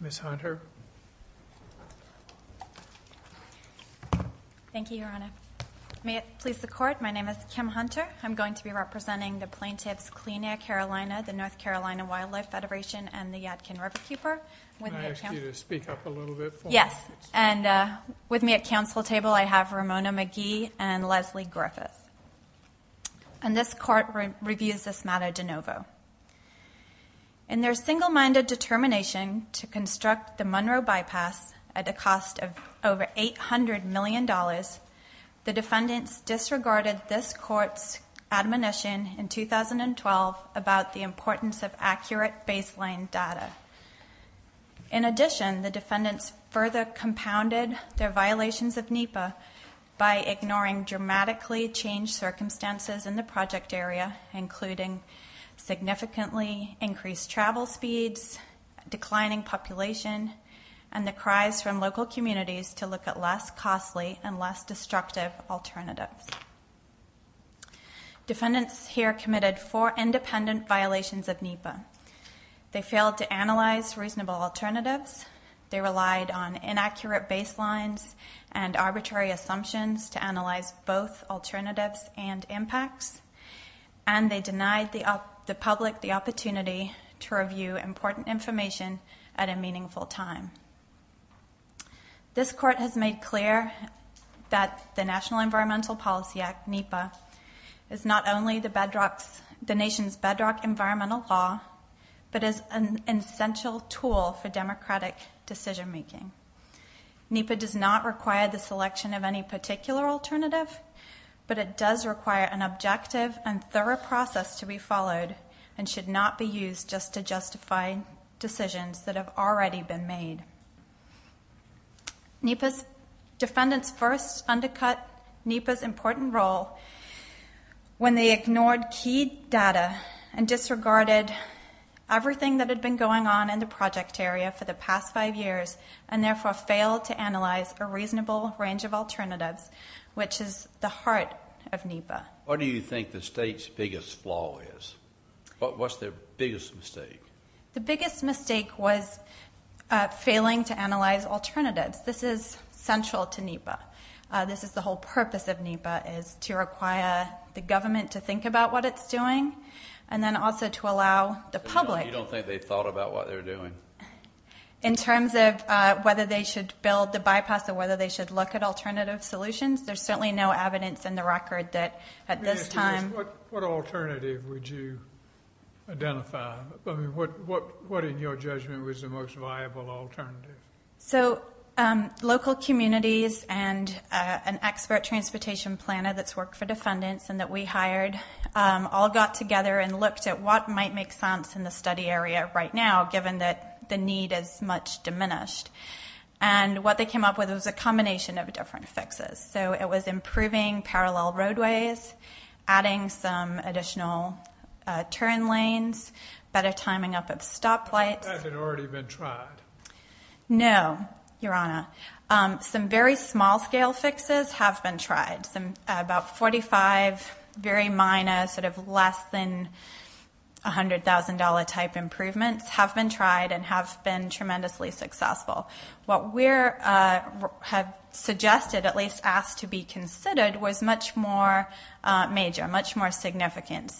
Ms. Hunter. Thank you, Your Honor. May it please the Court, my name is Kim Hunter. I'm going to be representing the plaintiffs Clean Air Carolina, the North Carolina Wildlife Federation and the Yadkin Riverkeeper. And with me at counsel table I have Ramona McGee and Leslie Griffith. And this Court reviews this matter de novo. In their single-minded determination to construct the Monroe Bypass at a cost of over $800 million, the defendants disregarded this Court's admonition in 2012 about the importance of accurate baseline data. In addition, the defendants further compounded their violations of NEPA by ignoring dramatically changed circumstances in the project area, including significantly increased travel speeds, declining population, and the cries from local communities to look at less alternatives. Defendants here committed four independent violations of NEPA. They failed to analyze reasonable alternatives, they relied on inaccurate baselines and arbitrary assumptions to analyze both alternatives and impacts, and they denied the public the opportunity to review important information at a meaningful time. This Court has made clear that the National Environmental Policy Act, NEPA, is not only the nation's bedrock environmental law, but is an essential tool for democratic decision-making. NEPA does not require the selection of any particular alternative, but it does require an objective and thorough process to be followed and should not be used just to justify decisions that have already been made. NEPA's defendants first undercut NEPA's important role when they ignored key data and disregarded everything that had been going on in the project area for the past five years and therefore failed to analyze a reasonable range of alternatives, which is the heart of NEPA. What do you think the state's biggest flaw is? What's their biggest mistake? The biggest mistake was failing to analyze alternatives. This is central to NEPA. This is the whole purpose of NEPA, is to require the government to think about what it's doing and then also to allow the public- You don't think they've thought about what they're doing? In terms of whether they should build the bypass or whether they should look at alternative solutions, there's certainly no evidence in the record that at this time- What in your judgment was the most viable alternative? Local communities and an expert transportation planner that's worked for defendants and that we hired all got together and looked at what might make sense in the study area right now given that the need is much diminished. What they came up with was a combination of different fixes. It was improving parallel roadways, adding some additional turn lanes, better timing up of stoplights- Has that already been tried? No, Your Honor. Some very small scale fixes have been tried. About 45 very minor, less than $100,000 type improvements have been tried and have been tremendously successful. What we have suggested, at least asked to be considered, was much more major, much more change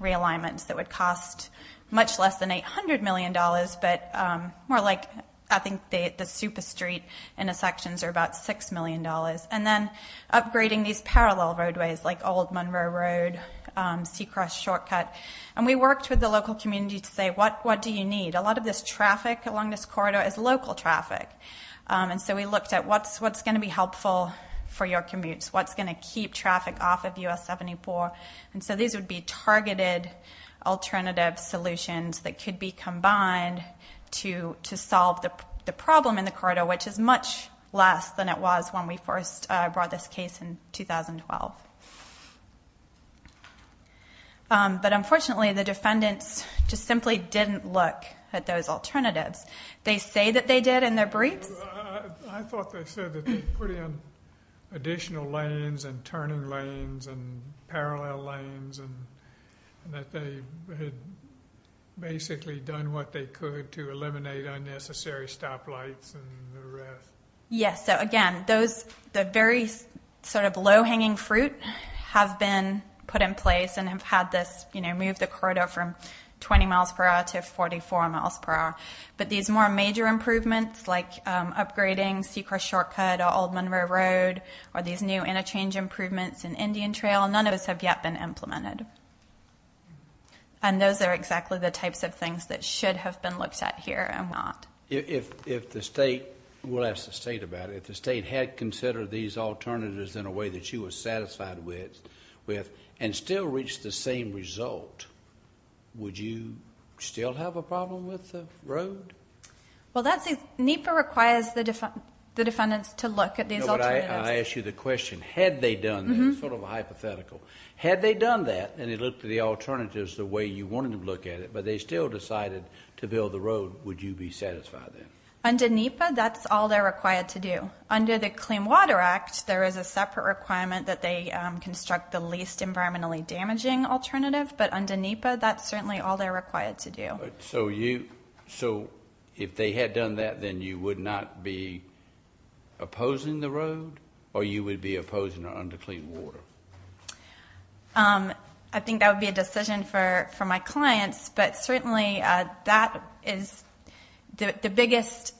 realignments that would cost much less than $800 million, but more like I think the super street intersections are about $6 million. Then upgrading these parallel roadways like old Monroe Road, Seacrest Shortcut. We worked with the local community to say, what do you need? A lot of this traffic along this corridor is local traffic. We looked at what's going to be helpful for your commutes, what's going to keep traffic off of US-74. These would be targeted alternative solutions that could be combined to solve the problem in the corridor, which is much less than it was when we first brought this case in 2012. Unfortunately, the defendants just simply didn't look at those alternatives. They say that they did in their briefs. I thought they said that they put in additional lanes and turning lanes and parallel lanes and that they had basically done what they could to eliminate unnecessary stoplights and the rest. Yes. Again, the very low-hanging fruit have been put in place and have moved the corridor from 20 miles per hour to 44 miles per hour. These more major improvements like upgrading Seacrest Shortcut or old Monroe Road or these new interchange improvements in Indian Trail, none of those have yet been implemented. Those are exactly the types of things that should have been looked at here and not. We'll ask the state about it. If the state had considered these alternatives in a way that you were satisfied with and still reached the same result, would you still have a problem with the road? NEPA requires the defendants to look at these alternatives. I ask you the question, had they done that? It's sort of a hypothetical. Had they done that and they looked at the alternatives the way you wanted to look at it, but they still decided to build the road, would you be satisfied then? Under NEPA, that's all they're required to do. Under the Clean Water Act, there is a separate requirement that they construct the least environmentally damaging alternative, but under NEPA, that's certainly all they're required to do. So if they had done that, then you would not be opposing the road or you would be opposing it under Clean Water? I think that would be a decision for my clients, but certainly that is the biggest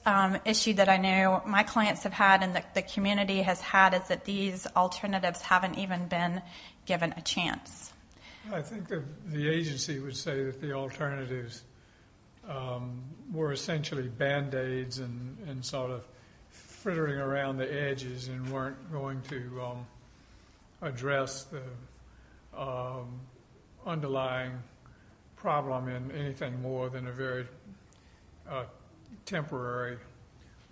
issue that I know my clients have had and the community has had is that these alternatives haven't even been given a chance. I think the agency would say that the alternatives were essentially Band-Aids and sort of frittering around the edges and weren't going to address the underlying problem in anything more than a very temporary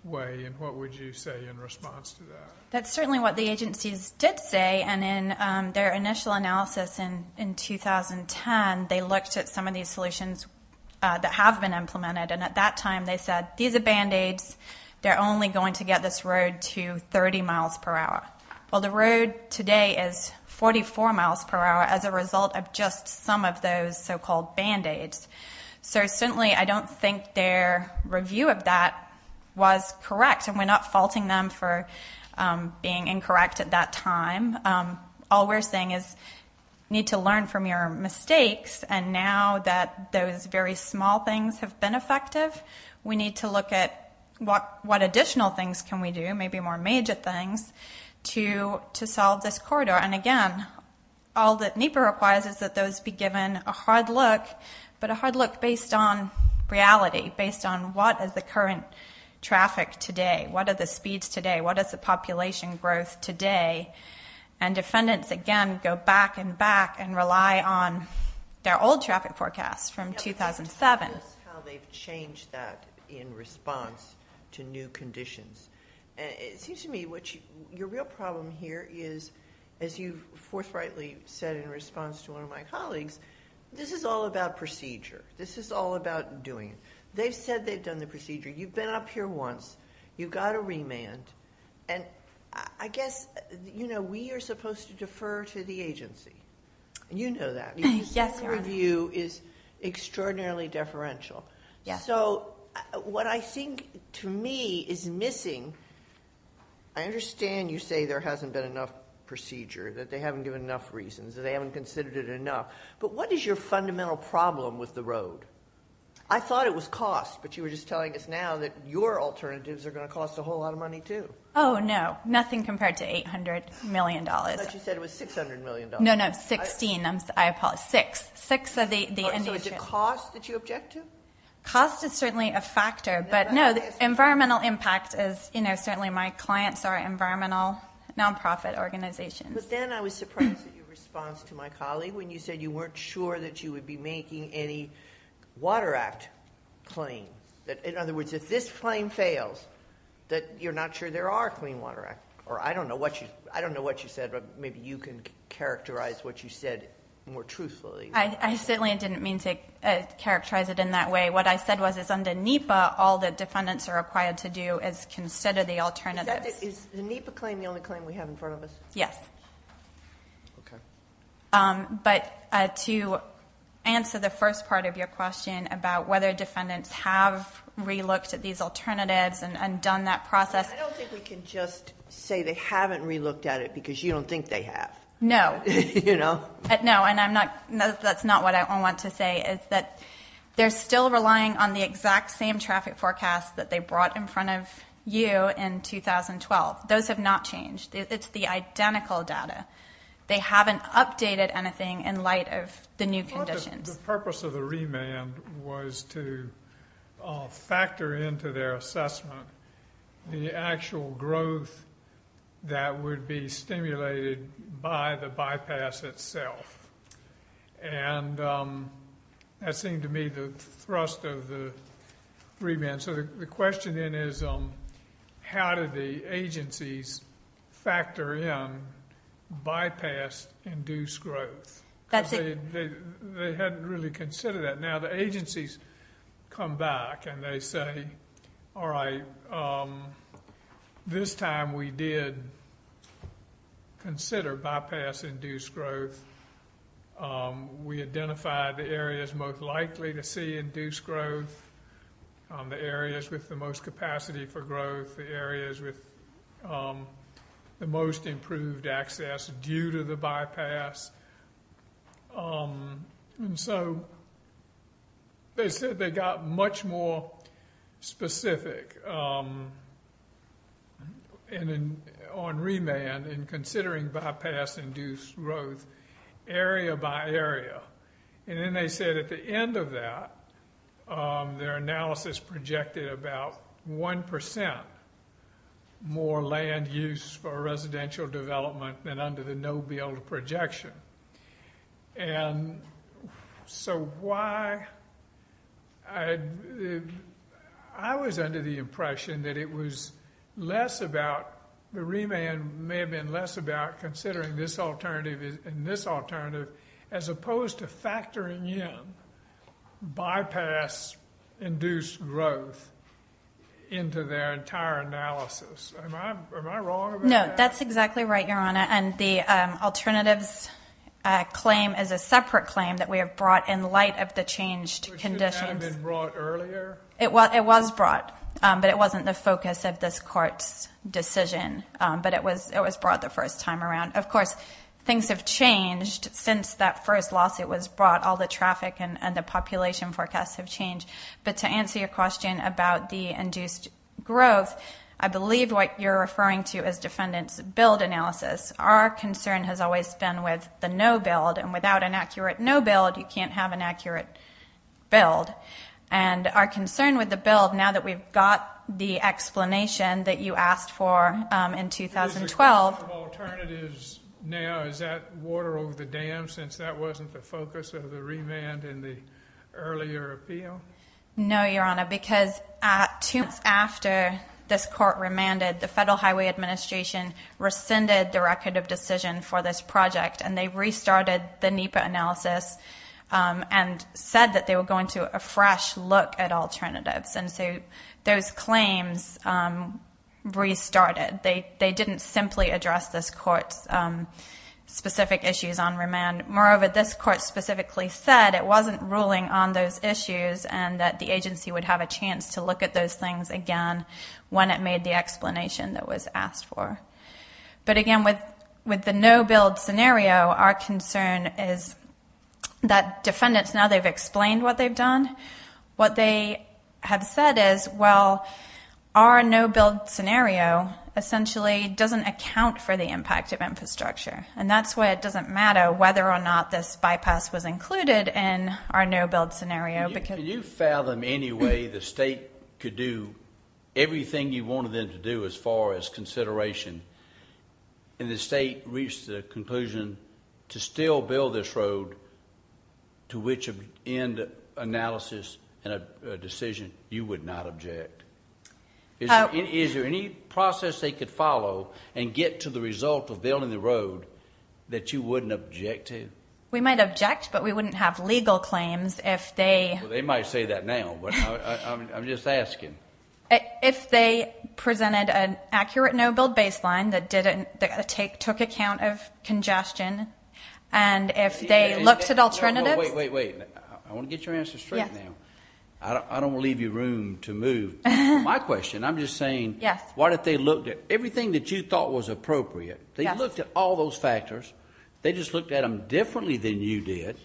way, and what would you say in response to that? That's certainly what the agencies did say, and in their initial analysis in 2010, they looked at some of these solutions that have been implemented, and at that time they said these are Band-Aids, they're only going to get this road to 30 miles per hour. Well, the road today is 44 miles per hour as a result of just some of those so-called Band-Aids, so certainly I don't think their review of that was correct, and we're not being incorrect at that time. All we're saying is you need to learn from your mistakes, and now that those very small things have been effective, we need to look at what additional things can we do, maybe more major things, to solve this corridor. And again, all that NEPA requires is that those be given a hard look, but a hard look based on reality, based on what is the current traffic today, what are the speeds today, what is the population growth today, and defendants, again, go back and back and rely on their old traffic forecasts from 2007. Tell us how they've changed that in response to new conditions. It seems to me your real problem here is, as you forthrightly said in response to one of my colleagues, this is all about procedure. This is all about doing it. They've said they've done the procedure. You've been up here once. You've got to remand. And I guess, you know, we are supposed to defer to the agency. You know that. Your review is extraordinarily deferential. So what I think to me is missing, I understand you say there hasn't been enough procedure, that they haven't given enough reasons, that they haven't considered it enough. But what is your fundamental problem with the road? I thought it was cost. But you were just telling us now that your alternatives are going to cost a whole lot of money, too. Oh, no. Nothing compared to $800 million. But you said it was $600 million. No, no. $16 million. I apologize. $6 million. $6 million are the end-users. So is it cost that you object to? Cost is certainly a factor. But no, the environmental impact is, you know, certainly my clients are environmental nonprofit organizations. But then I was surprised at your response to my colleague when you said you weren't sure that you would be making any Water Act claim. That, in other words, if this claim fails, that you're not sure there are Clean Water Act. Or I don't know what you said, but maybe you can characterize what you said more truthfully. I certainly didn't mean to characterize it in that way. What I said was, is under NEPA, all the defendants are required to do is consider the alternatives. Is the NEPA claim the only claim we have in front of us? Yes. Okay. But to answer the first part of your question about whether defendants have re-looked at these alternatives and done that process. I don't think we can just say they haven't re-looked at it because you don't think they have. No. No. And that's not what I want to say, is that they're still relying on the exact same traffic forecast that they brought in front of you in 2012. Those have not changed. It's the identical data. They haven't updated anything in light of the new conditions. The purpose of the remand was to factor into their assessment the actual growth that would be stimulated by the bypass itself. And that seemed to me the thrust of the remand. The question then is how did the agencies factor in bypass-induced growth? They hadn't really considered that. Now the agencies come back and they say, all right, this time we did consider bypass-induced growth. We identified the areas most likely to see induced growth. The areas with the most capacity for growth. The areas with the most improved access due to the bypass. And so they said they got much more specific on remand in considering bypass-induced growth area by area. And then they said at the end of that, their analysis projected about 1% more land use for residential development than under the no-build projection. And so why? I was under the impression that it was less about the remand may have been less about considering this alternative and this alternative as opposed to factoring in bypass-induced growth into their entire analysis. Am I wrong about that? No, that's exactly right, Your Honor. And the alternatives claim is a separate claim that we have brought in light of the changed conditions. But shouldn't that have been brought earlier? It was brought. But it wasn't the focus of this court's decision. But it was brought the first time around. Of course, things have changed since that first lawsuit was brought. All the traffic and the population forecasts have changed. But to answer your question about the induced growth, I believe what you're referring to is defendant's build analysis. Our concern has always been with the no-build. And without an accurate no-build, you can't have an accurate build. And our concern with the build, now that we've got the explanation that you asked for in 2012— Is it a question of alternatives now? Is that water over the dam since that wasn't the focus of the remand in the earlier appeal? No, Your Honor, because two months after this court remanded, the Federal Highway Administration rescinded the record of decision for this project. And they restarted the NEPA analysis and said that they were going to a fresh look at alternatives. And so those claims restarted. They didn't simply address this court's specific issues on remand. Moreover, this court specifically said it wasn't ruling on those issues and that the agency would have a chance to look at those things again when it made the explanation that was asked for. But again, with the no-build scenario, our concern is that defendants now they've explained what they've done. What they have said is, well, our no-build scenario essentially doesn't account for the impact of infrastructure. And that's why it doesn't matter whether or not this bypass was included in our no-build scenario. Can you fathom any way the state could do everything you wanted them to do as far as consideration and the state reached the conclusion to still build this road to which end analysis and a decision you would not object? Is there any process they could follow and get to the result of building the road that you wouldn't object to? We might object, but we wouldn't have legal claims if they... Well, they might say that now, but I'm just asking. If they presented an accurate no-build baseline that took account of congestion and if they looked at alternatives... Wait, wait, wait. I want to get your answer straight now. I don't want to leave you room to move. My question, I'm just saying, what if they looked at everything that you thought was appropriate? They looked at all those factors. They just looked at them differently than you did.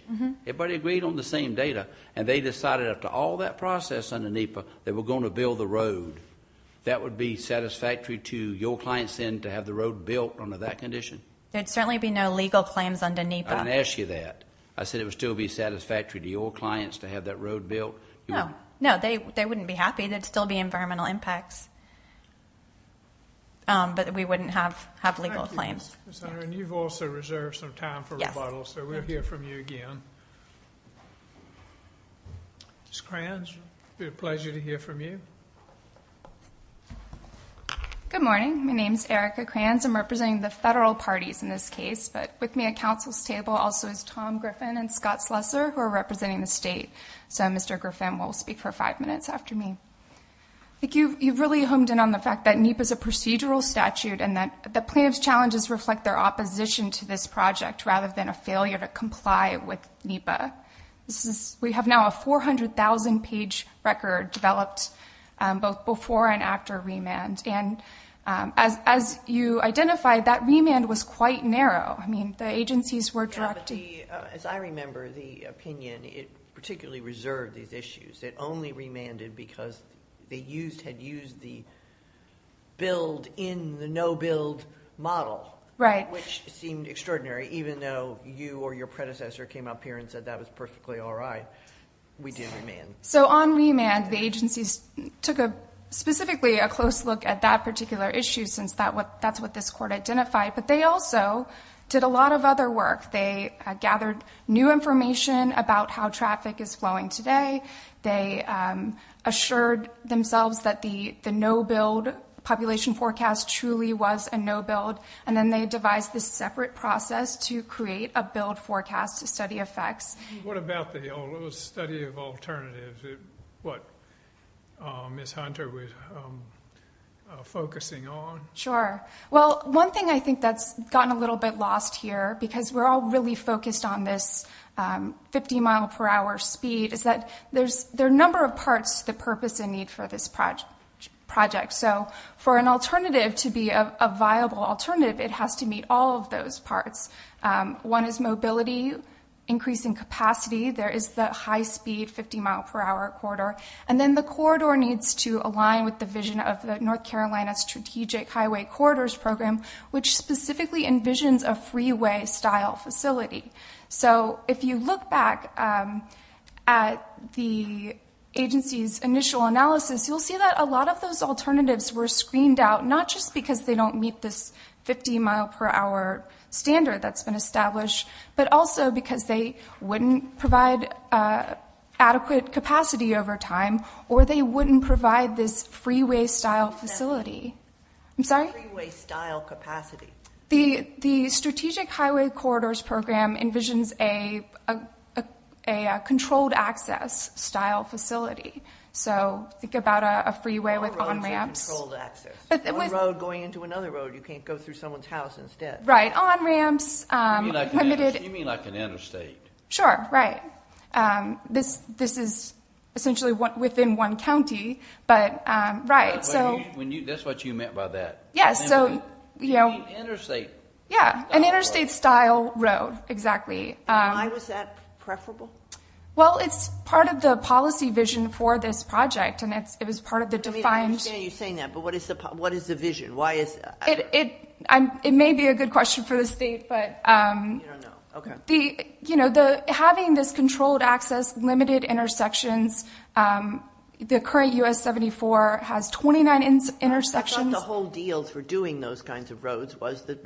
Everybody agreed on the same data, and they decided after all that process under NEPA they were going to build the road. That would be satisfactory to your clients then to have the road built under that condition? There'd certainly be no legal claims under NEPA. I didn't ask you that. I said it would still be satisfactory to your clients to have that road built. No, no, they wouldn't be happy. There'd still be environmental impacts, but we wouldn't have legal claims. Thank you, Ms. Hunter, and you've also reserved some time for rebuttal, so we'll hear from you again. Ms. Kranz, it'll be a pleasure to hear from you. Good morning. My name's Erica Kranz. I'm representing the federal parties in this case, but with me at council's table also is Tom Griffin and Scott Slesser, who are representing the state. So Mr. Griffin will speak for five minutes after me. I think you've really honed in on the fact that NEPA is a procedural statute and that comply with NEPA. We have now a 400,000-page record developed, both before and after remand, and as you identified, that remand was quite narrow. I mean, the agencies were directed— Yeah, but as I remember the opinion, it particularly reserved these issues. It only remanded because they had used the build-in, the no-build model, which seemed extraordinary, even though you or your predecessor came up here and said that was perfectly all right. We did remand. So on remand, the agencies took specifically a close look at that particular issue, since that's what this court identified, but they also did a lot of other work. They gathered new information about how traffic is flowing today. They assured themselves that the no-build population forecast truly was a no-build, and then they devised this separate process to create a build forecast to study effects. What about the study of alternatives, what Ms. Hunter was focusing on? Sure. Well, one thing I think that's gotten a little bit lost here, because we're all really focused on this 50-mile-per-hour speed, is that there are a number of parts to the purpose and need for this project. For an alternative to be a viable alternative, it has to meet all of those parts. One is mobility, increasing capacity. There is the high-speed 50-mile-per-hour corridor, and then the corridor needs to align with the vision of the North Carolina Strategic Highway Corridors Program, which specifically envisions a freeway-style facility. If you look back at the agency's initial analysis, you'll see that a lot of those alternatives were screened out not just because they don't meet this 50-mile-per-hour standard that's been established, but also because they wouldn't provide adequate capacity over time, or they wouldn't provide this freeway-style facility. I'm sorry? Freeway-style capacity. The Strategic Highway Corridors Program envisions a controlled-access-style facility. Think about a freeway with on-ramps. On-ramps are controlled-access. On-road going into another road, you can't go through someone's house instead. Right. On-ramps. You mean like an interstate. Sure, right. This is essentially within one county, but right. That's what you meant by that. Yes, so, you know. You mean interstate. Yeah, an interstate-style road, exactly. Why was that preferable? Well, it's part of the policy vision for this project, and it was part of the defined- I understand you saying that, but what is the vision? Why is- It may be a good question for the state, but- You don't know. Okay. The, you know, having this controlled-access, limited intersections. The current U.S. 74 has 29 intersections. I thought the whole deal for doing those kinds of roads was that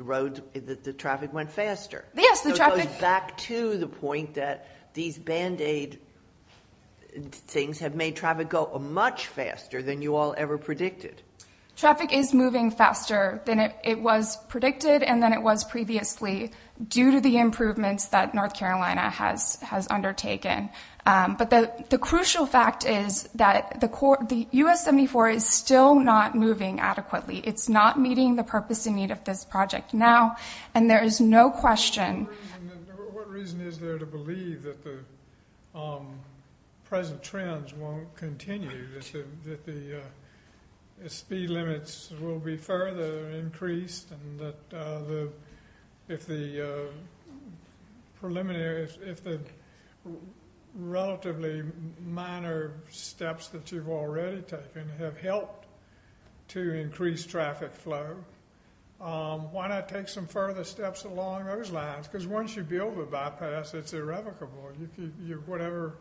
the traffic went faster. Yes, the traffic- Back to the point that these Band-Aid things have made traffic go much faster than you all ever predicted. Traffic is moving faster than it was predicted, and than it was previously, due to the improvements that North Carolina has undertaken. But the crucial fact is that the U.S. 74 is still not moving adequately. It's not meeting the purpose and need of this project now, and there is no question- What reason is there to believe that the present trends won't continue, that the speed limits will be further increased, and that if the preliminary- if the relatively minor steps that you've already taken have helped to increase traffic flow, why not take some further steps along those lines? Because once you build a bypass, it's irrevocable. Whatever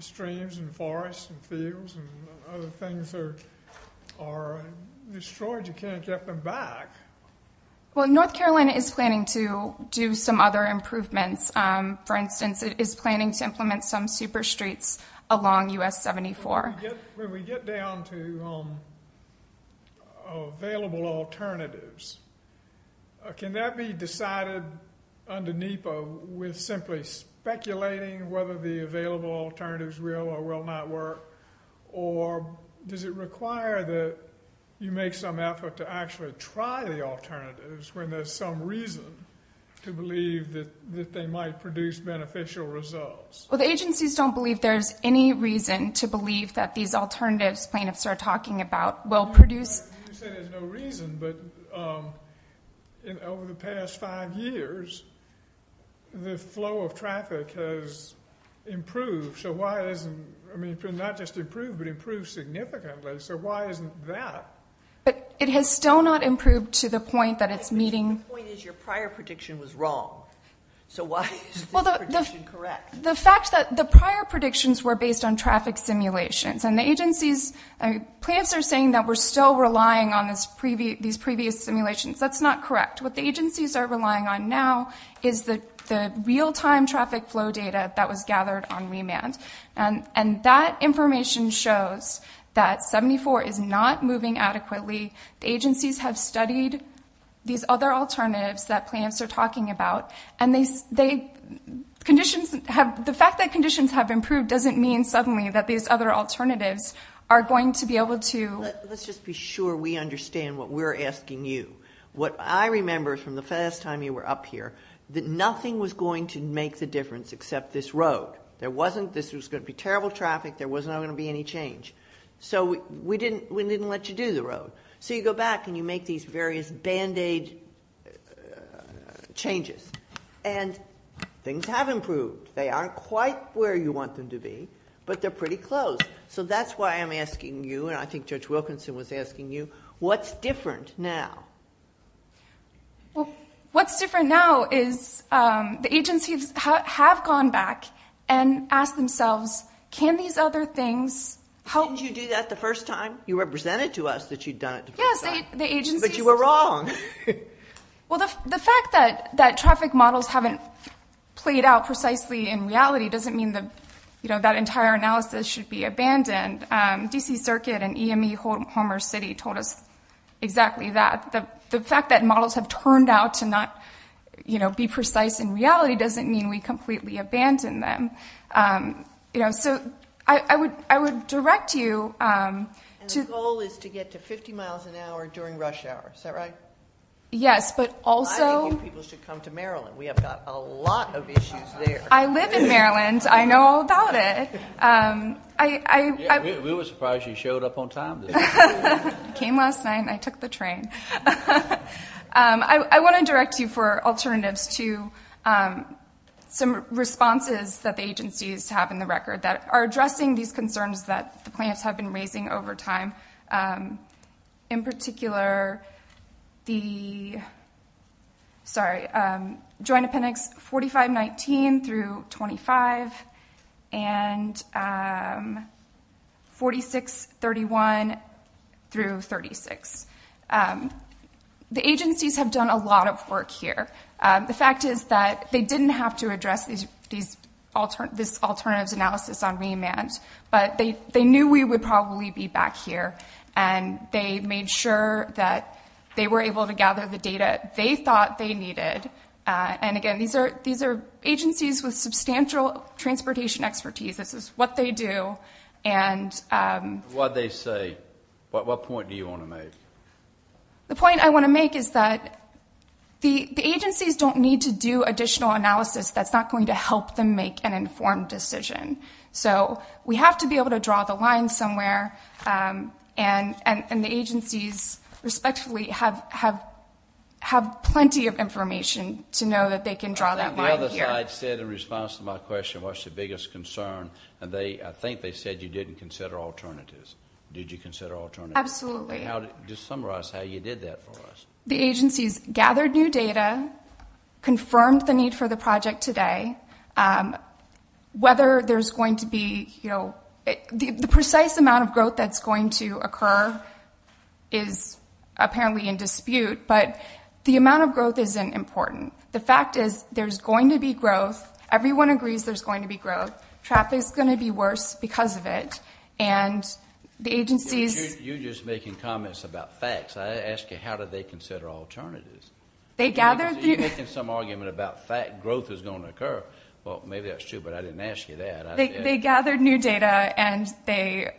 streams and forests and fields and other things are destroyed, you can't get them back. Well, North Carolina is planning to do some other improvements. For instance, it is planning to implement some super streets along U.S. 74. When we get down to available alternatives, can that be decided under NEPA with simply speculating whether the available alternatives will or will not work, or does it require that you make some effort to actually try the alternatives when there's some reason to believe that they might produce beneficial results? The agencies don't believe there's any reason to believe that these alternatives plaintiffs are talking about will produce- You said there's no reason, but over the past five years, the flow of traffic has improved. So why isn't- I mean, not just improved, but improved significantly. So why isn't that- But it has still not improved to the point that it's meeting- The point is your prior prediction was wrong. So why is this prediction correct? The fact that the prior predictions were based on traffic simulations, and the agencies- Plaintiffs are saying that we're still relying on these previous simulations. That's not correct. What the agencies are relying on now is the real-time traffic flow data that was gathered on remand, and that information shows that 74 is not moving adequately. The agencies have studied these other alternatives that plaintiffs are talking about, and the fact that conditions have improved doesn't mean suddenly that these other alternatives are going to be able to- Let's just be sure we understand what we're asking you. What I remember from the first time you were up here, that nothing was going to make the difference except this road. There wasn't- This was going to be terrible traffic. There was not going to be any change. So we didn't let you do the road. So you go back and you make these various band-aid changes, and things have improved. They aren't quite where you want them to be, but they're pretty close. So that's why I'm asking you, and I think Judge Wilkinson was asking you, what's different now? Well, what's different now is the agencies have gone back and asked themselves, can these other things- How did you do that the first time? You represented to us that you'd done it the first time, but you were wrong. Well, the fact that traffic models haven't played out precisely in reality doesn't mean that entire analysis should be abandoned. DC Circuit and EME Homer City told us exactly that. The fact that models have turned out to not be precise in reality doesn't mean we completely abandon them. You know, so I would direct you- And the goal is to get to 50 miles an hour during rush hour, is that right? Yes, but also- I think you people should come to Maryland. We have got a lot of issues there. I live in Maryland. I know all about it. We were surprised you showed up on time. I came last night and I took the train. I want to direct you for alternatives to some responses that the agencies have in the record that are addressing these concerns that the plaintiffs have been raising over time. In particular, the, sorry, Joint Appendix 4519 through 25 and 4631 through 36. The agencies have done a lot of work here. The fact is that they didn't have to address this alternatives analysis on remand, but they knew we would probably be back here. And they made sure that they were able to gather the data they thought they needed. And again, these are agencies with substantial transportation expertise. This is what they do and- What they say. What point do you want to make? The point I want to make is that the agencies don't need to do additional analysis that's not going to help them make an informed decision. So, we have to be able to draw the line somewhere. And the agencies, respectfully, have plenty of information to know that they can draw that line. The other side said in response to my question, what's your biggest concern? And I think they said you didn't consider alternatives. Did you consider alternatives? Absolutely. Just summarize how you did that for us. The agencies gathered new data, confirmed the need for the project today, whether there's going to be, you know, the precise amount of growth that's going to occur is apparently in dispute. But the amount of growth isn't important. The fact is there's going to be growth. Everyone agrees there's going to be growth. Traffic's going to be worse because of it. And the agencies- You're just making comments about facts. I asked you how did they consider alternatives? They gathered- You're making some argument about growth is going to occur. Well, maybe that's true, but I didn't ask you that. They gathered new data and they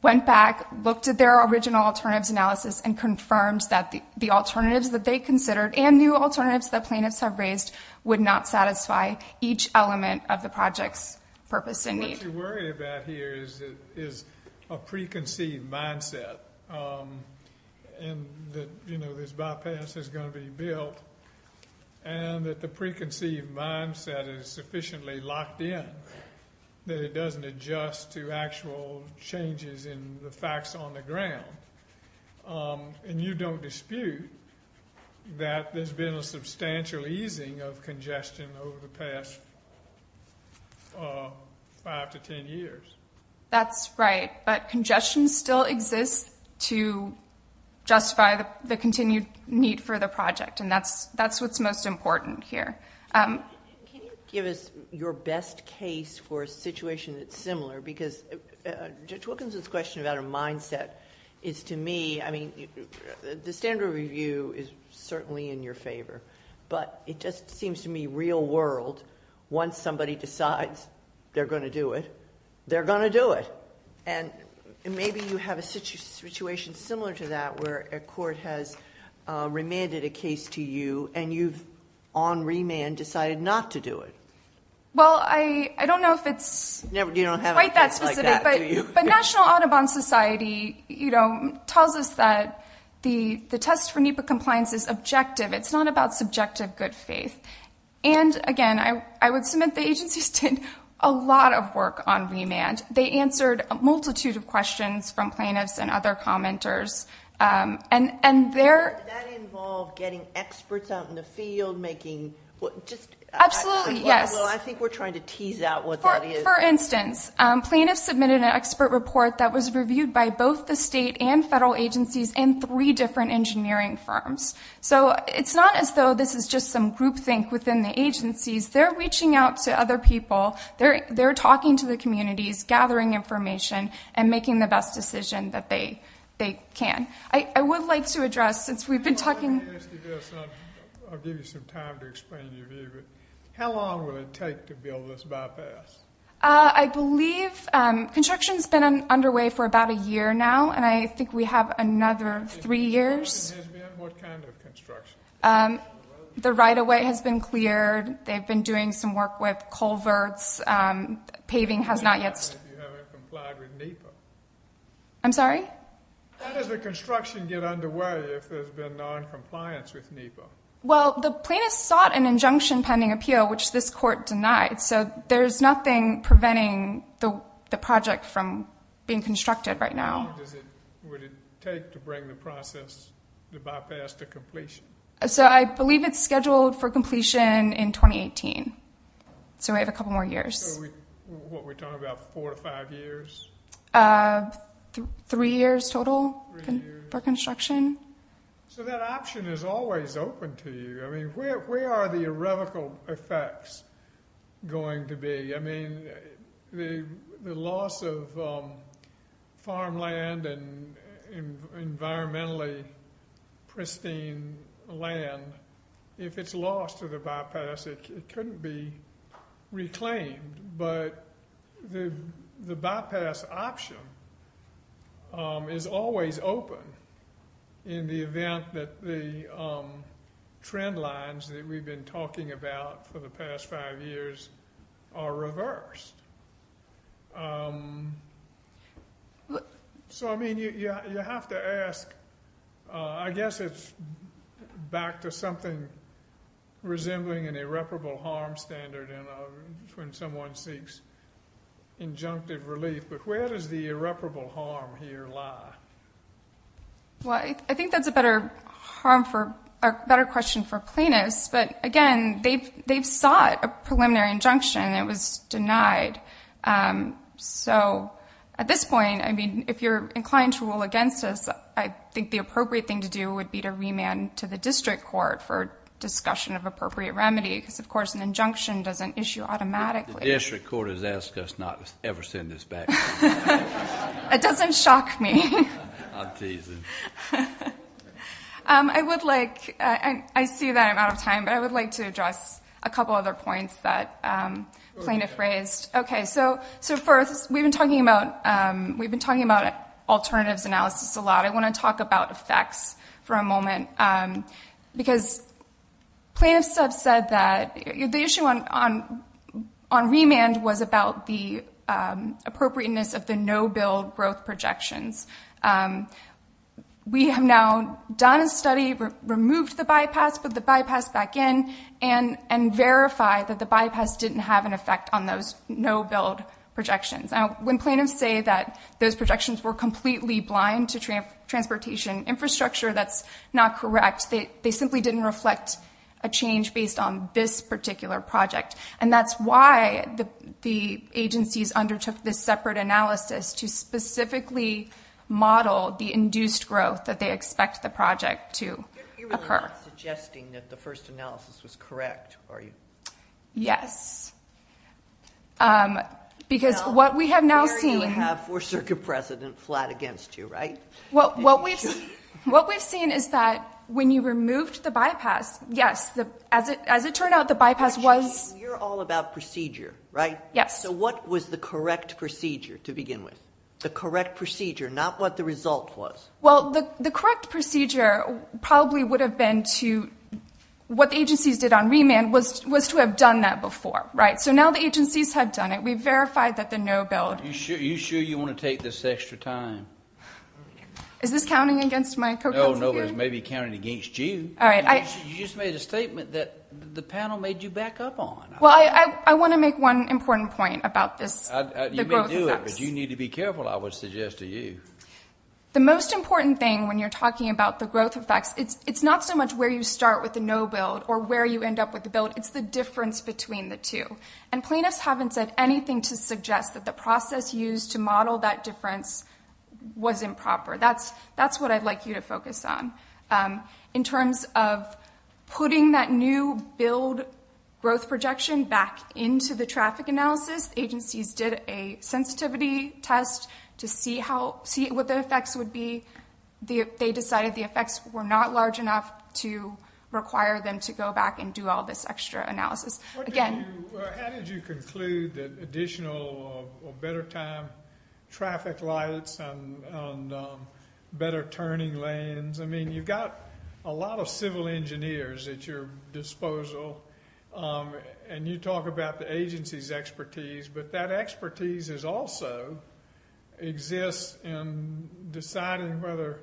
went back, looked at their original alternatives analysis, and confirmed that the alternatives that they considered and new alternatives that plaintiffs have raised would not satisfy each element of the project's purpose and need. What you're worried about here is a preconceived mindset and that, you know, this bypass is going to be built and that the preconceived mindset is sufficiently locked in that it doesn't adjust to actual changes in the facts on the ground. And you don't dispute that there's been a substantial easing of congestion over the past five to ten years. That's right, but congestion still exists to justify the continued need for the project. And that's what's most important here. Can you give us your best case for a situation that's similar? Because Judge Wilkinson's question about her mindset is to me, I mean, the standard review is certainly in your favor, but it just seems to me real world, once somebody decides they're going to do it, they're going to do it. And maybe you have a situation similar to that where a court has remanded a case to you and you've on remand decided not to do it. Well, I don't know if it's quite that specific, but National Audubon Society, you know, tells us that the test for NEPA compliance is objective. It's not about subjective good faith. And again, I would submit the agencies did a lot of work on remand. They answered a multitude of questions from plaintiffs and other commenters. And that involved getting experts out in the field, making just... Absolutely, yes. I think we're trying to tease out what that is. For instance, plaintiffs submitted an expert report that was reviewed by both the state and federal agencies and three different engineering firms. So it's not as though this is just some groupthink within the agencies. They're reaching out to other people. They're talking to the communities, gathering information, and making the best decision that they can. I would like to address, since we've been talking... I'll give you some time to explain your view, but how long will it take to build this bypass? I believe construction's been underway for about a year now, and I think we have another three years. What kind of construction? The right-of-way has been cleared. They've been doing some work with culverts. Paving has not yet... What happens if you haven't complied with NEPA? I'm sorry? How does the construction get underway if there's been noncompliance with NEPA? Well, the plaintiffs sought an injunction pending appeal, which this court denied. So there's nothing preventing the project from being constructed right now. Would it take to bring the process, the bypass, to completion? So I believe it's scheduled for completion in 2018. So we have a couple more years. What we're talking about, four to five years? Three years total for construction. So that option is always open to you. I mean, where are the irrevocable effects going to be? I mean, the loss of farmland and environmentally pristine land, if it's lost to the bypass, it couldn't be reclaimed. But the bypass option is always open in the event that the trend lines that we've been talking about for the past five years are reversed. So I mean, you have to ask, I guess it's back to something resembling an irreparable harm standard when someone seeks injunctive relief. But where does the irreparable harm here lie? Well, I think that's a better question for plaintiffs. But again, they've sought a preliminary injunction. It was denied. So at this point, I mean, if you're inclined to rule against us, I think the appropriate thing to do would be to remand to the district court for discussion of appropriate remedy. Because of course, an injunction doesn't issue automatically. The district court has asked us not to ever send this back. It doesn't shock me. I'm teasing. I would like, I see that I'm out of time, but I would like to address a couple other points that plaintiff raised. Okay, so first, we've been talking about alternatives analysis a lot. I want to talk about effects for a moment. Because plaintiffs have said that the issue on remand was about the appropriateness of the no-bill growth projections. We have now done a study, removed the bypass, put the bypass back in, and verified that the bypass didn't have an effect on those no-bill projections. Now, when plaintiffs say that those projections were completely blind to transportation infrastructure, that's not correct. They simply didn't reflect a change based on this particular project. And that's why the agencies undertook this separate analysis to specifically model the induced growth that they expect the project to occur. You're really not suggesting that the first analysis was correct, are you? Yes. Because what we have now seen... Now, there you have four-circuit precedent flat against you, right? Well, what we've seen is that when you removed the bypass, yes, as it turned out, the bypass was... You're all about procedure, right? Yes. So what was the correct procedure to begin with? The correct procedure, not what the result was. Well, the correct procedure probably would have been to... What the agencies did on remand was to have done that before, right? So now the agencies have done it. We've verified that the no-bill... Are you sure you want to take this extra time? Is this counting against my co-counsel here? No, no, it may be counting against you. All right, I... You just made a statement that the panel made you back up on. Well, I want to make one important point about this. You may do it, but you need to be careful, I would suggest to you. The most important thing when you're talking about the growth effects, it's not so much where you start with the no-bill or where you end up with the bill, it's the difference between the two. And plaintiffs haven't said anything to suggest that the process used to model that difference was improper. That's what I'd like you to focus on. In terms of putting that new build growth projection back into the traffic analysis, agencies did a sensitivity test to see what the effects would be. They decided the effects were not large enough to require them to go back and do all this extra analysis. Again... How did you conclude that additional or better time traffic lights and better turning lanes? You've got a lot of civil engineers at your disposal, and you talk about the agency's expertise, but that expertise also exists in deciding whether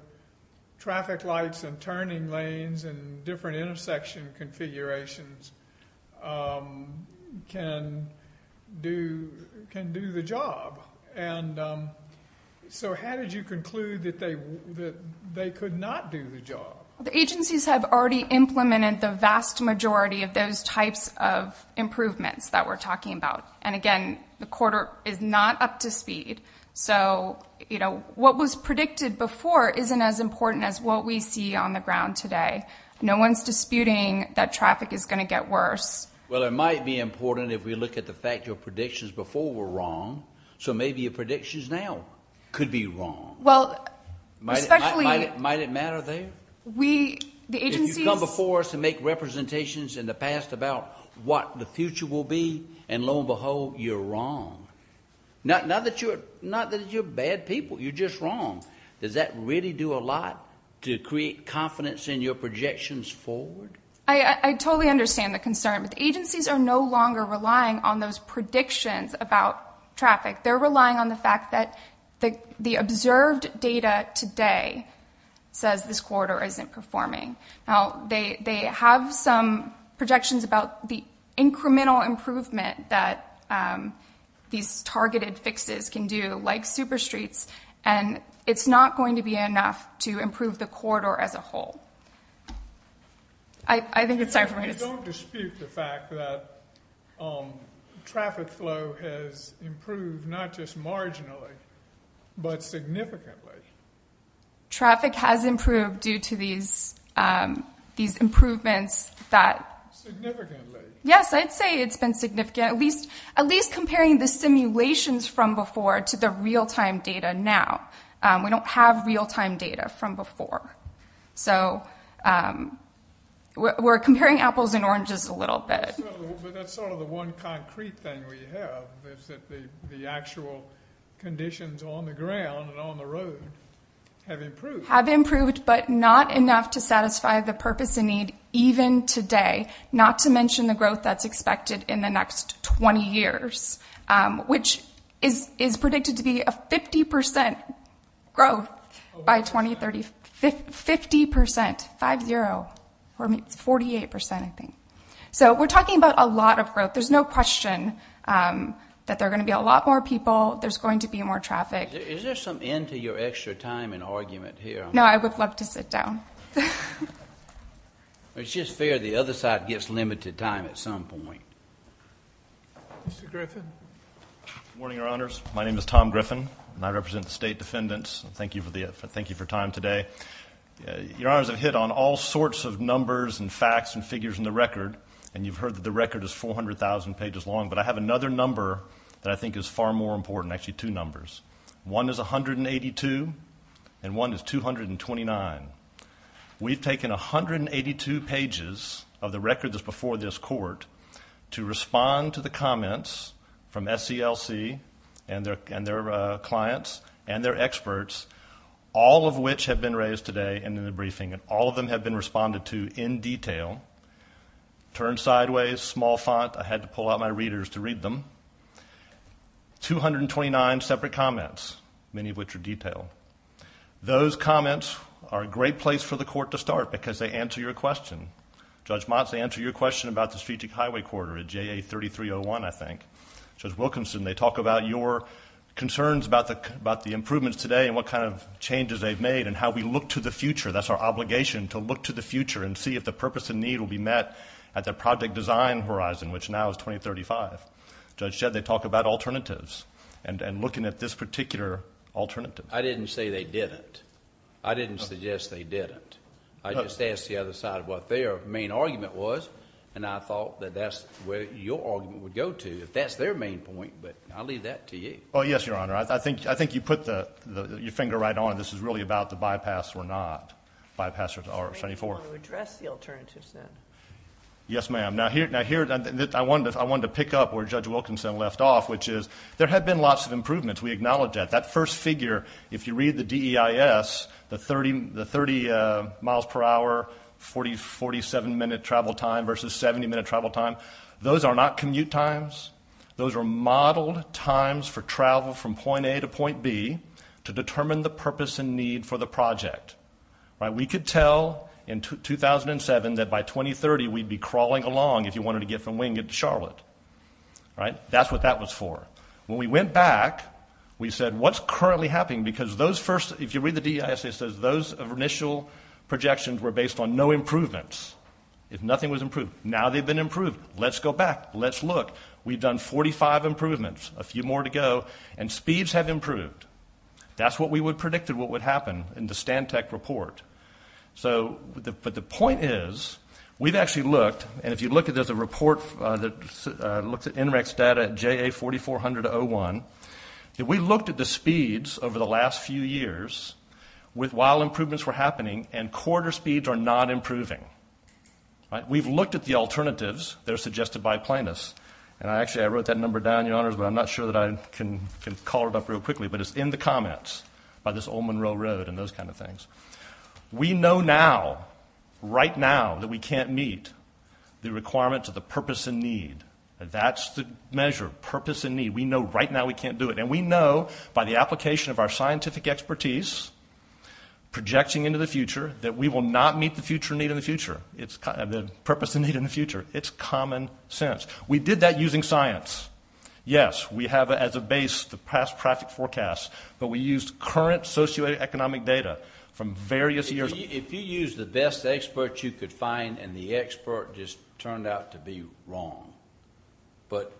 traffic lights and turning lanes and different intersection configurations can do the job. And so how did you conclude that they could not do the job? The agencies have already implemented the vast majority of those types of improvements that we're talking about. And again, the quarter is not up to speed. So what was predicted before isn't as important as what we see on the ground today. No one's disputing that traffic is going to get worse. Well, it might be important if we look at the fact that your predictions before were wrong. So maybe your predictions now could be wrong. Well, especially... Might it matter there? The agencies... You've come before us to make representations in the past about what the future will be, and lo and behold, you're wrong. Not that you're bad people, you're just wrong. Does that really do a lot to create confidence in your projections forward? I totally understand the concern, but the agencies are no longer relying on those predictions about traffic. They're relying on the fact that the observed data today says this quarter isn't performing. Now, they have some projections about the incremental improvement that these targeted fixes can do, like super streets, and it's not going to be enough to improve the corridor as a whole. I think it's time for me to... Don't dispute the fact that traffic flow has improved not just marginally, but significantly. Traffic has improved due to these improvements that... Significantly. Yes, I'd say it's been significant, at least comparing the simulations from before to the real-time data now. We don't have real-time data from before. So, we're comparing apples and oranges a little bit. But that's sort of the one concrete thing we have, is that the actual conditions on the ground and on the road have improved. Have improved, but not enough to satisfy the purpose and need even today, not to mention the growth that's expected in the next 20 years, which is predicted to be a 50% growth by 2030. 50%, 5-0, or 48%, I think. So, we're talking about a lot of growth. There's no question that there are going to be a lot more people. There's going to be more traffic. Is there some end to your extra time and argument here? No, I would love to sit down. It's just fair the other side gets limited time at some point. Mr. Griffin. Good morning, Your Honors. My name is Tom Griffin, and I represent the State Defendants. Thank you for the effort. I'm going to start with a couple of things that we've done today. Your Honors have hit on all sorts of numbers and facts and figures in the record, and you've heard that the record is 400,000 pages long, but I have another number that I think is far more important. Actually, two numbers. One is 182, and one is 229. that's before this court to respond to the comments from SCLC and their clients and their experts, all of which have been raised today and in the briefing, and all of them have been responded to in detail. Turn sideways, small font. I had to pull out my readers to read them. 229 separate comments, many of which are detailed. Those comments are a great place for the court to start because they answer your question. Judge Motz, they answer your question about the strategic highway corridor at JA 3301, I think. Judge Wilkinson, they talk about your concerns about the improvements today and what kind of changes they've made and how we look to the future. That's our obligation, to look to the future and see if the purpose and need will be met at the project design horizon, which now is 2035. Judge Jed, they talk about alternatives and looking at this particular alternative. I didn't say they didn't. I didn't suggest they didn't. I just asked the other side what their main argument was, and I thought that that's where your argument would go to, if that's their main point, but I'll leave that to you. Oh, yes, Your Honor. I think you put your finger right on it. This is really about the bypass or not. Bypass or 24. You want to address the alternatives, then. Yes, ma'am. I wanted to pick up where Judge Wilkinson left off, which is there have been lots of improvements. We acknowledge that. That first figure, if you read the DEIS, the 30 miles per hour, 47-minute travel time versus 70-minute travel time, those are not commute times. Those are modeled times for travel from point A to point B to determine the purpose and need for the project. We could tell in 2007 that by 2030, we'd be crawling along if you wanted to get from Wingett to Charlotte, right? That's what that was for. When we went back, we said, what's currently happening? If you read the DEIS, it says those initial projections were based on no improvements. If nothing was improved, now they've been improved. Let's go back. Let's look. We've done 45 improvements, a few more to go, and speeds have improved. That's what we predicted what would happen in the Stantec report. But the point is, we've actually looked, and if you look, there's a report that looks at NREX data at JA4400-01. We looked at the speeds over the last few years with while improvements were happening, and quarter speeds are not improving. We've looked at the alternatives that are suggested by plaintiffs. And actually, I wrote that number down, Your Honors, but I'm not sure that I can call it up real quickly. But it's in the comments by this Ole Monroe Road and those kind of things. We know now, right now, that we can't meet the requirements of the purpose and need. That's the measure, purpose and need. We know, right now, we can't do it. And we know, by the application of our scientific expertise, projecting into the future, that we will not meet the future need in the future. It's the purpose and need in the future. It's common sense. We did that using science. Yes, we have, as a base, the past traffic forecast, but we used current socioeconomic data from various years. If you use the best experts you could find and the expert just turned out to be wrong, but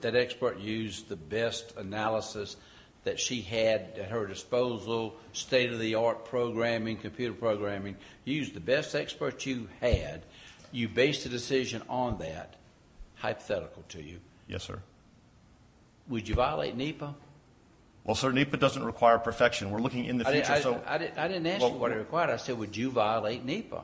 that expert used the best analysis that she had at her disposal, state-of-the-art programming, computer programming, used the best expert you had, you base the decision on that, hypothetical to you. Yes, sir. Would you violate NEPA? Well, sir, NEPA doesn't require perfection. We're looking in the future. I didn't ask you what it required. I said, would you violate NEPA?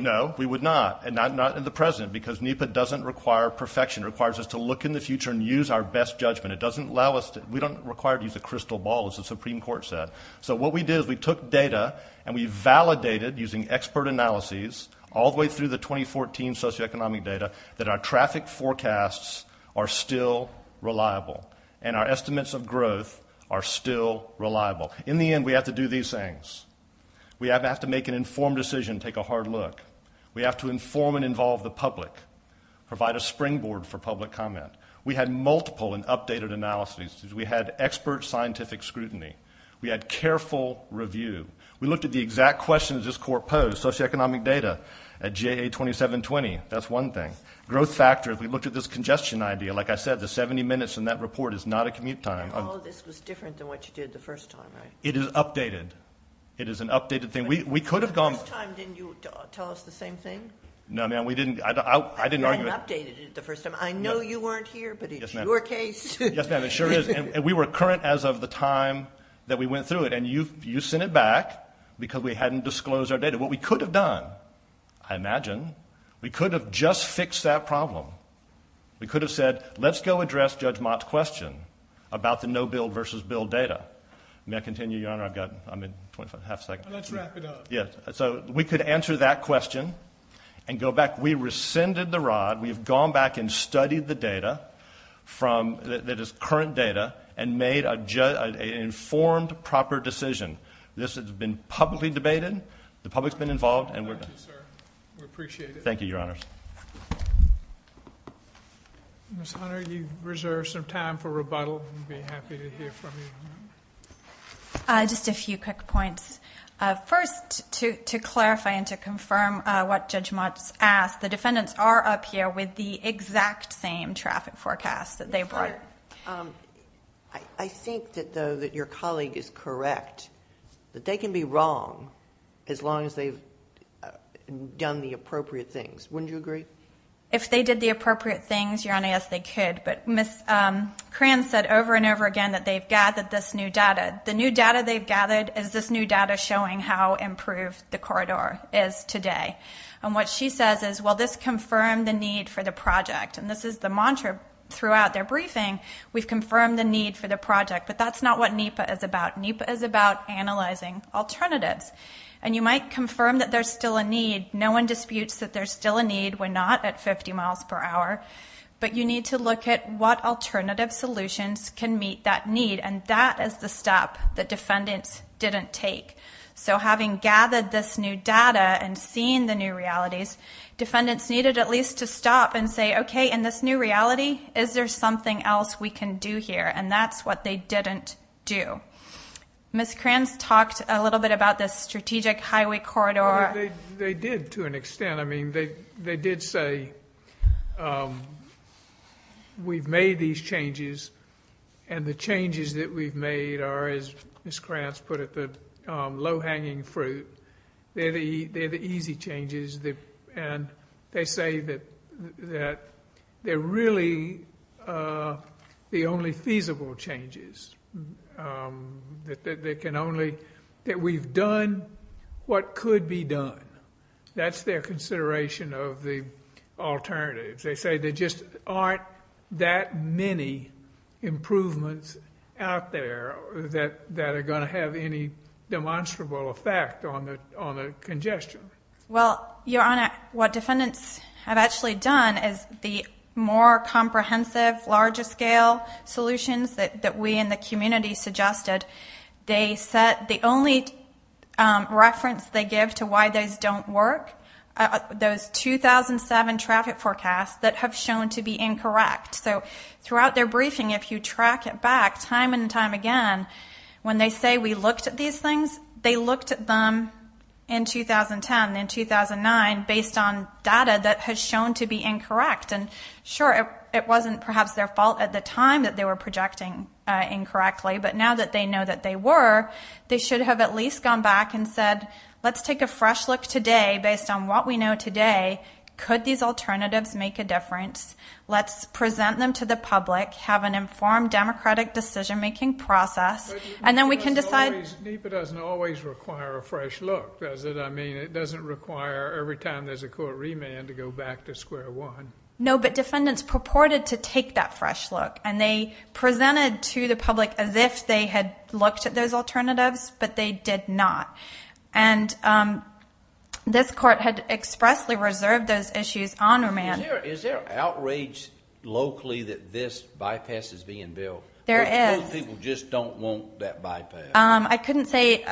No, we would not, and not in the present, because NEPA doesn't require perfection. It requires us to look in the future and use our best judgment. It doesn't allow us to... We don't require to use a crystal ball, as the Supreme Court said. So what we did is we took data and we validated using expert analyses all the way through the 2014 socioeconomic data that our traffic forecasts are still reliable and our estimates of growth are still reliable. In the end, we have to do these things. We have to make an informed decision, take a hard look. We have to inform and involve the public, provide a springboard for public comment. We had multiple and updated analyses. We had expert scientific scrutiny. We had careful review. We looked at the exact questions this court posed, socioeconomic data at GA-2720. That's one thing. Growth factor, if we looked at this congestion idea, like I said, the 70 minutes in that report is not a commute time. And all of this was different than what you did the first time, right? It is updated. It is an updated thing. We could have gone... The first time, didn't you tell us the same thing? No, ma'am, we didn't. I didn't update it the first time. I know you weren't here, but it's your case. Yes, ma'am, it sure is. And we were current as of the time that we went through it. And you sent it back because we hadn't disclosed our data. What we could have done, I imagine, we could have just fixed that problem. We could have said, let's go address Judge Mott's question about the no-bill versus bill data. May I continue, Your Honor? I've got, I'm in 25, half a second. Let's wrap it up. Yes, so we could answer that question and go back. We rescinded the rod. We've gone back and studied the data from, that is current data, and made an informed, proper decision. This has been publicly debated. The public's been involved. Thank you, sir. We appreciate it. Thank you, Your Honors. Ms. Hunter, you reserve some time for rebuttal. We'd be happy to hear from you. Just a few quick points. First, to clarify and to confirm what Judge Mott's asked, the defendants are up here with the exact same traffic forecast that they brought. I think that, though, that your colleague is correct that they can be wrong as long as they've done the appropriate things. Wouldn't you agree? If they did the appropriate things, Your Honor, yes, they could. But Ms. Kranz said over and over again that they've gathered this new data. The new data they've gathered is this new data showing how improved the corridor is today. And what she says is, well, this confirmed the need for the project. And this is the mantra throughout their briefing. We've confirmed the need for the project. But that's not what NEPA is about. NEPA is about analyzing alternatives. And you might confirm that there's still a need. No one disputes that there's still a need. We're not at 50 miles per hour. But you need to look at what alternative solutions can meet that need. And that is the step that defendants didn't take. So having gathered this new data and seeing the new realities, defendants needed at least to stop and say, OK, in this new reality, is there something else we can do here? And that's what they didn't do. Ms. Kranz talked a little bit about this strategic highway corridor. They did to an extent. I mean, they did say, we've made these changes. And the changes that we've made are, as Ms. Kranz put it, the low-hanging fruit. They're the easy changes. And they say that they're really the only feasible changes. That we've done what could be done. That's their consideration of the alternatives. They say there just aren't that many improvements out there that are going to have any demonstrable effect on the congestion. Well, Your Honor, what defendants have actually done is the more comprehensive, larger-scale solutions that we in the community suggested, they set the only reference they give to why those don't work. Those 2007 traffic forecasts that have shown to be incorrect. So throughout their briefing, if you track it back time and time again, when they say we looked at these things, they looked at them in 2010 and 2009 based on data that has shown to be incorrect. And sure, it wasn't perhaps their fault at the time that they were projecting incorrectly. But now that they know that they were, they should have at least gone back and said, let's take a fresh look today based on what we know today. Could these alternatives make a difference? Let's present them to the public, have an informed democratic decision-making process. And then we can decide- NEPA doesn't always require a fresh look, does it? I mean, it doesn't require every time there's a court remand to go back to square one. No, but defendants purported to take that fresh look. And they presented to the public as if they had looked at those alternatives, but they did not. And this court had expressly reserved those issues on remand. Is there outrage locally that this bypass is being billed? There is. Most people just don't want that bypass. I couldn't say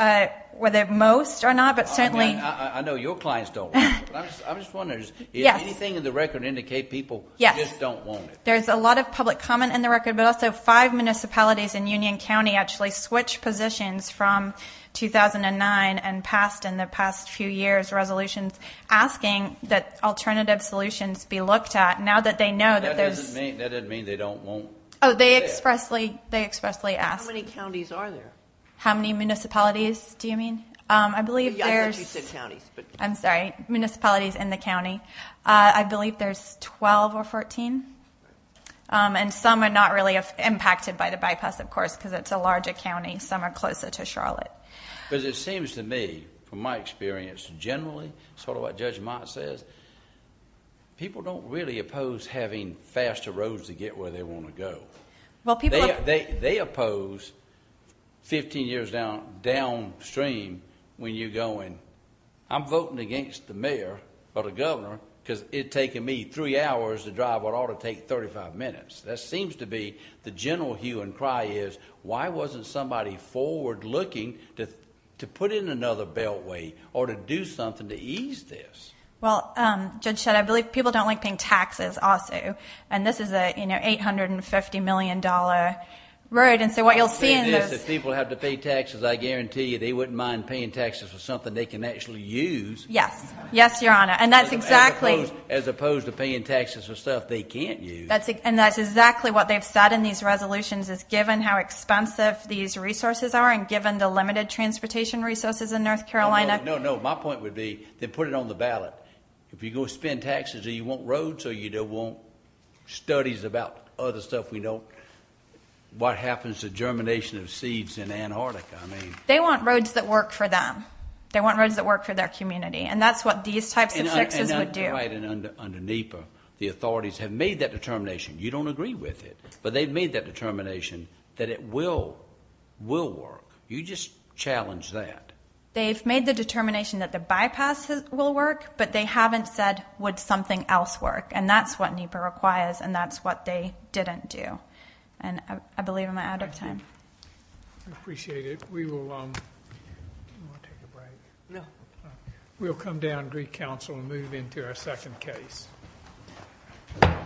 whether most or not, but certainly- I mean, I know your clients don't want it, but I'm just wondering if anything in the record indicate people just don't want it. There's a lot of public comment in the record, but also five municipalities in Union County actually switched positions from 2009 and passed in the past few years resolutions asking that alternative solutions be looked at now that they know that there's- That doesn't mean they won't- Oh, they expressly asked. How many counties are there? How many municipalities, do you mean? I believe there's- I thought you said counties, but- I'm sorry, municipalities in the county. I believe there's 12 or 14. And some are not really impacted by the bypass, of course, because it's a larger county. Some are closer to Charlotte. But it seems to me, from my experience generally, sort of what Judge Mott says, people don't really oppose having faster roads to get where they want to go. Well, people- They oppose 15 years downstream when you're going, I'm voting against the mayor or the governor because it'd taken me three hours to drive what ought to take 35 minutes. That seems to be the general hue and cry is, why wasn't somebody forward looking to put in another beltway or to do something to ease this? Well, Judge Shedd, I believe people don't like paying taxes also. And this is an $850 million road. And so what you'll see in this- If people have to pay taxes, I guarantee you, they wouldn't mind paying taxes for something they can actually use. Yes. Yes, Your Honor. And that's exactly- As opposed to paying taxes for stuff they can't use. And that's exactly what they've said in these resolutions is given how expensive these resources are and given the limited transportation resources in North Carolina- No, no, no. My point would be, then put it on the ballot. If you go spend taxes or you want roads or you don't want studies about other stuff we don't, what happens to germination of seeds in Antarctica? I mean- They want roads that work for them. They want roads that work for their community. And that's what these types of fixes would do. And under NEPA, the authorities have made that determination. You don't agree with it, but they've made that determination that it will work. You just challenge that. They've made the determination that the bypass will work, but they haven't said, would something else work? And that's what NEPA requires, and that's what they didn't do. And I believe I'm out of time. Thank you. I appreciate it. We will- Do you want to take a break? No. We'll come down and greet counsel and move into our second case. Thank you.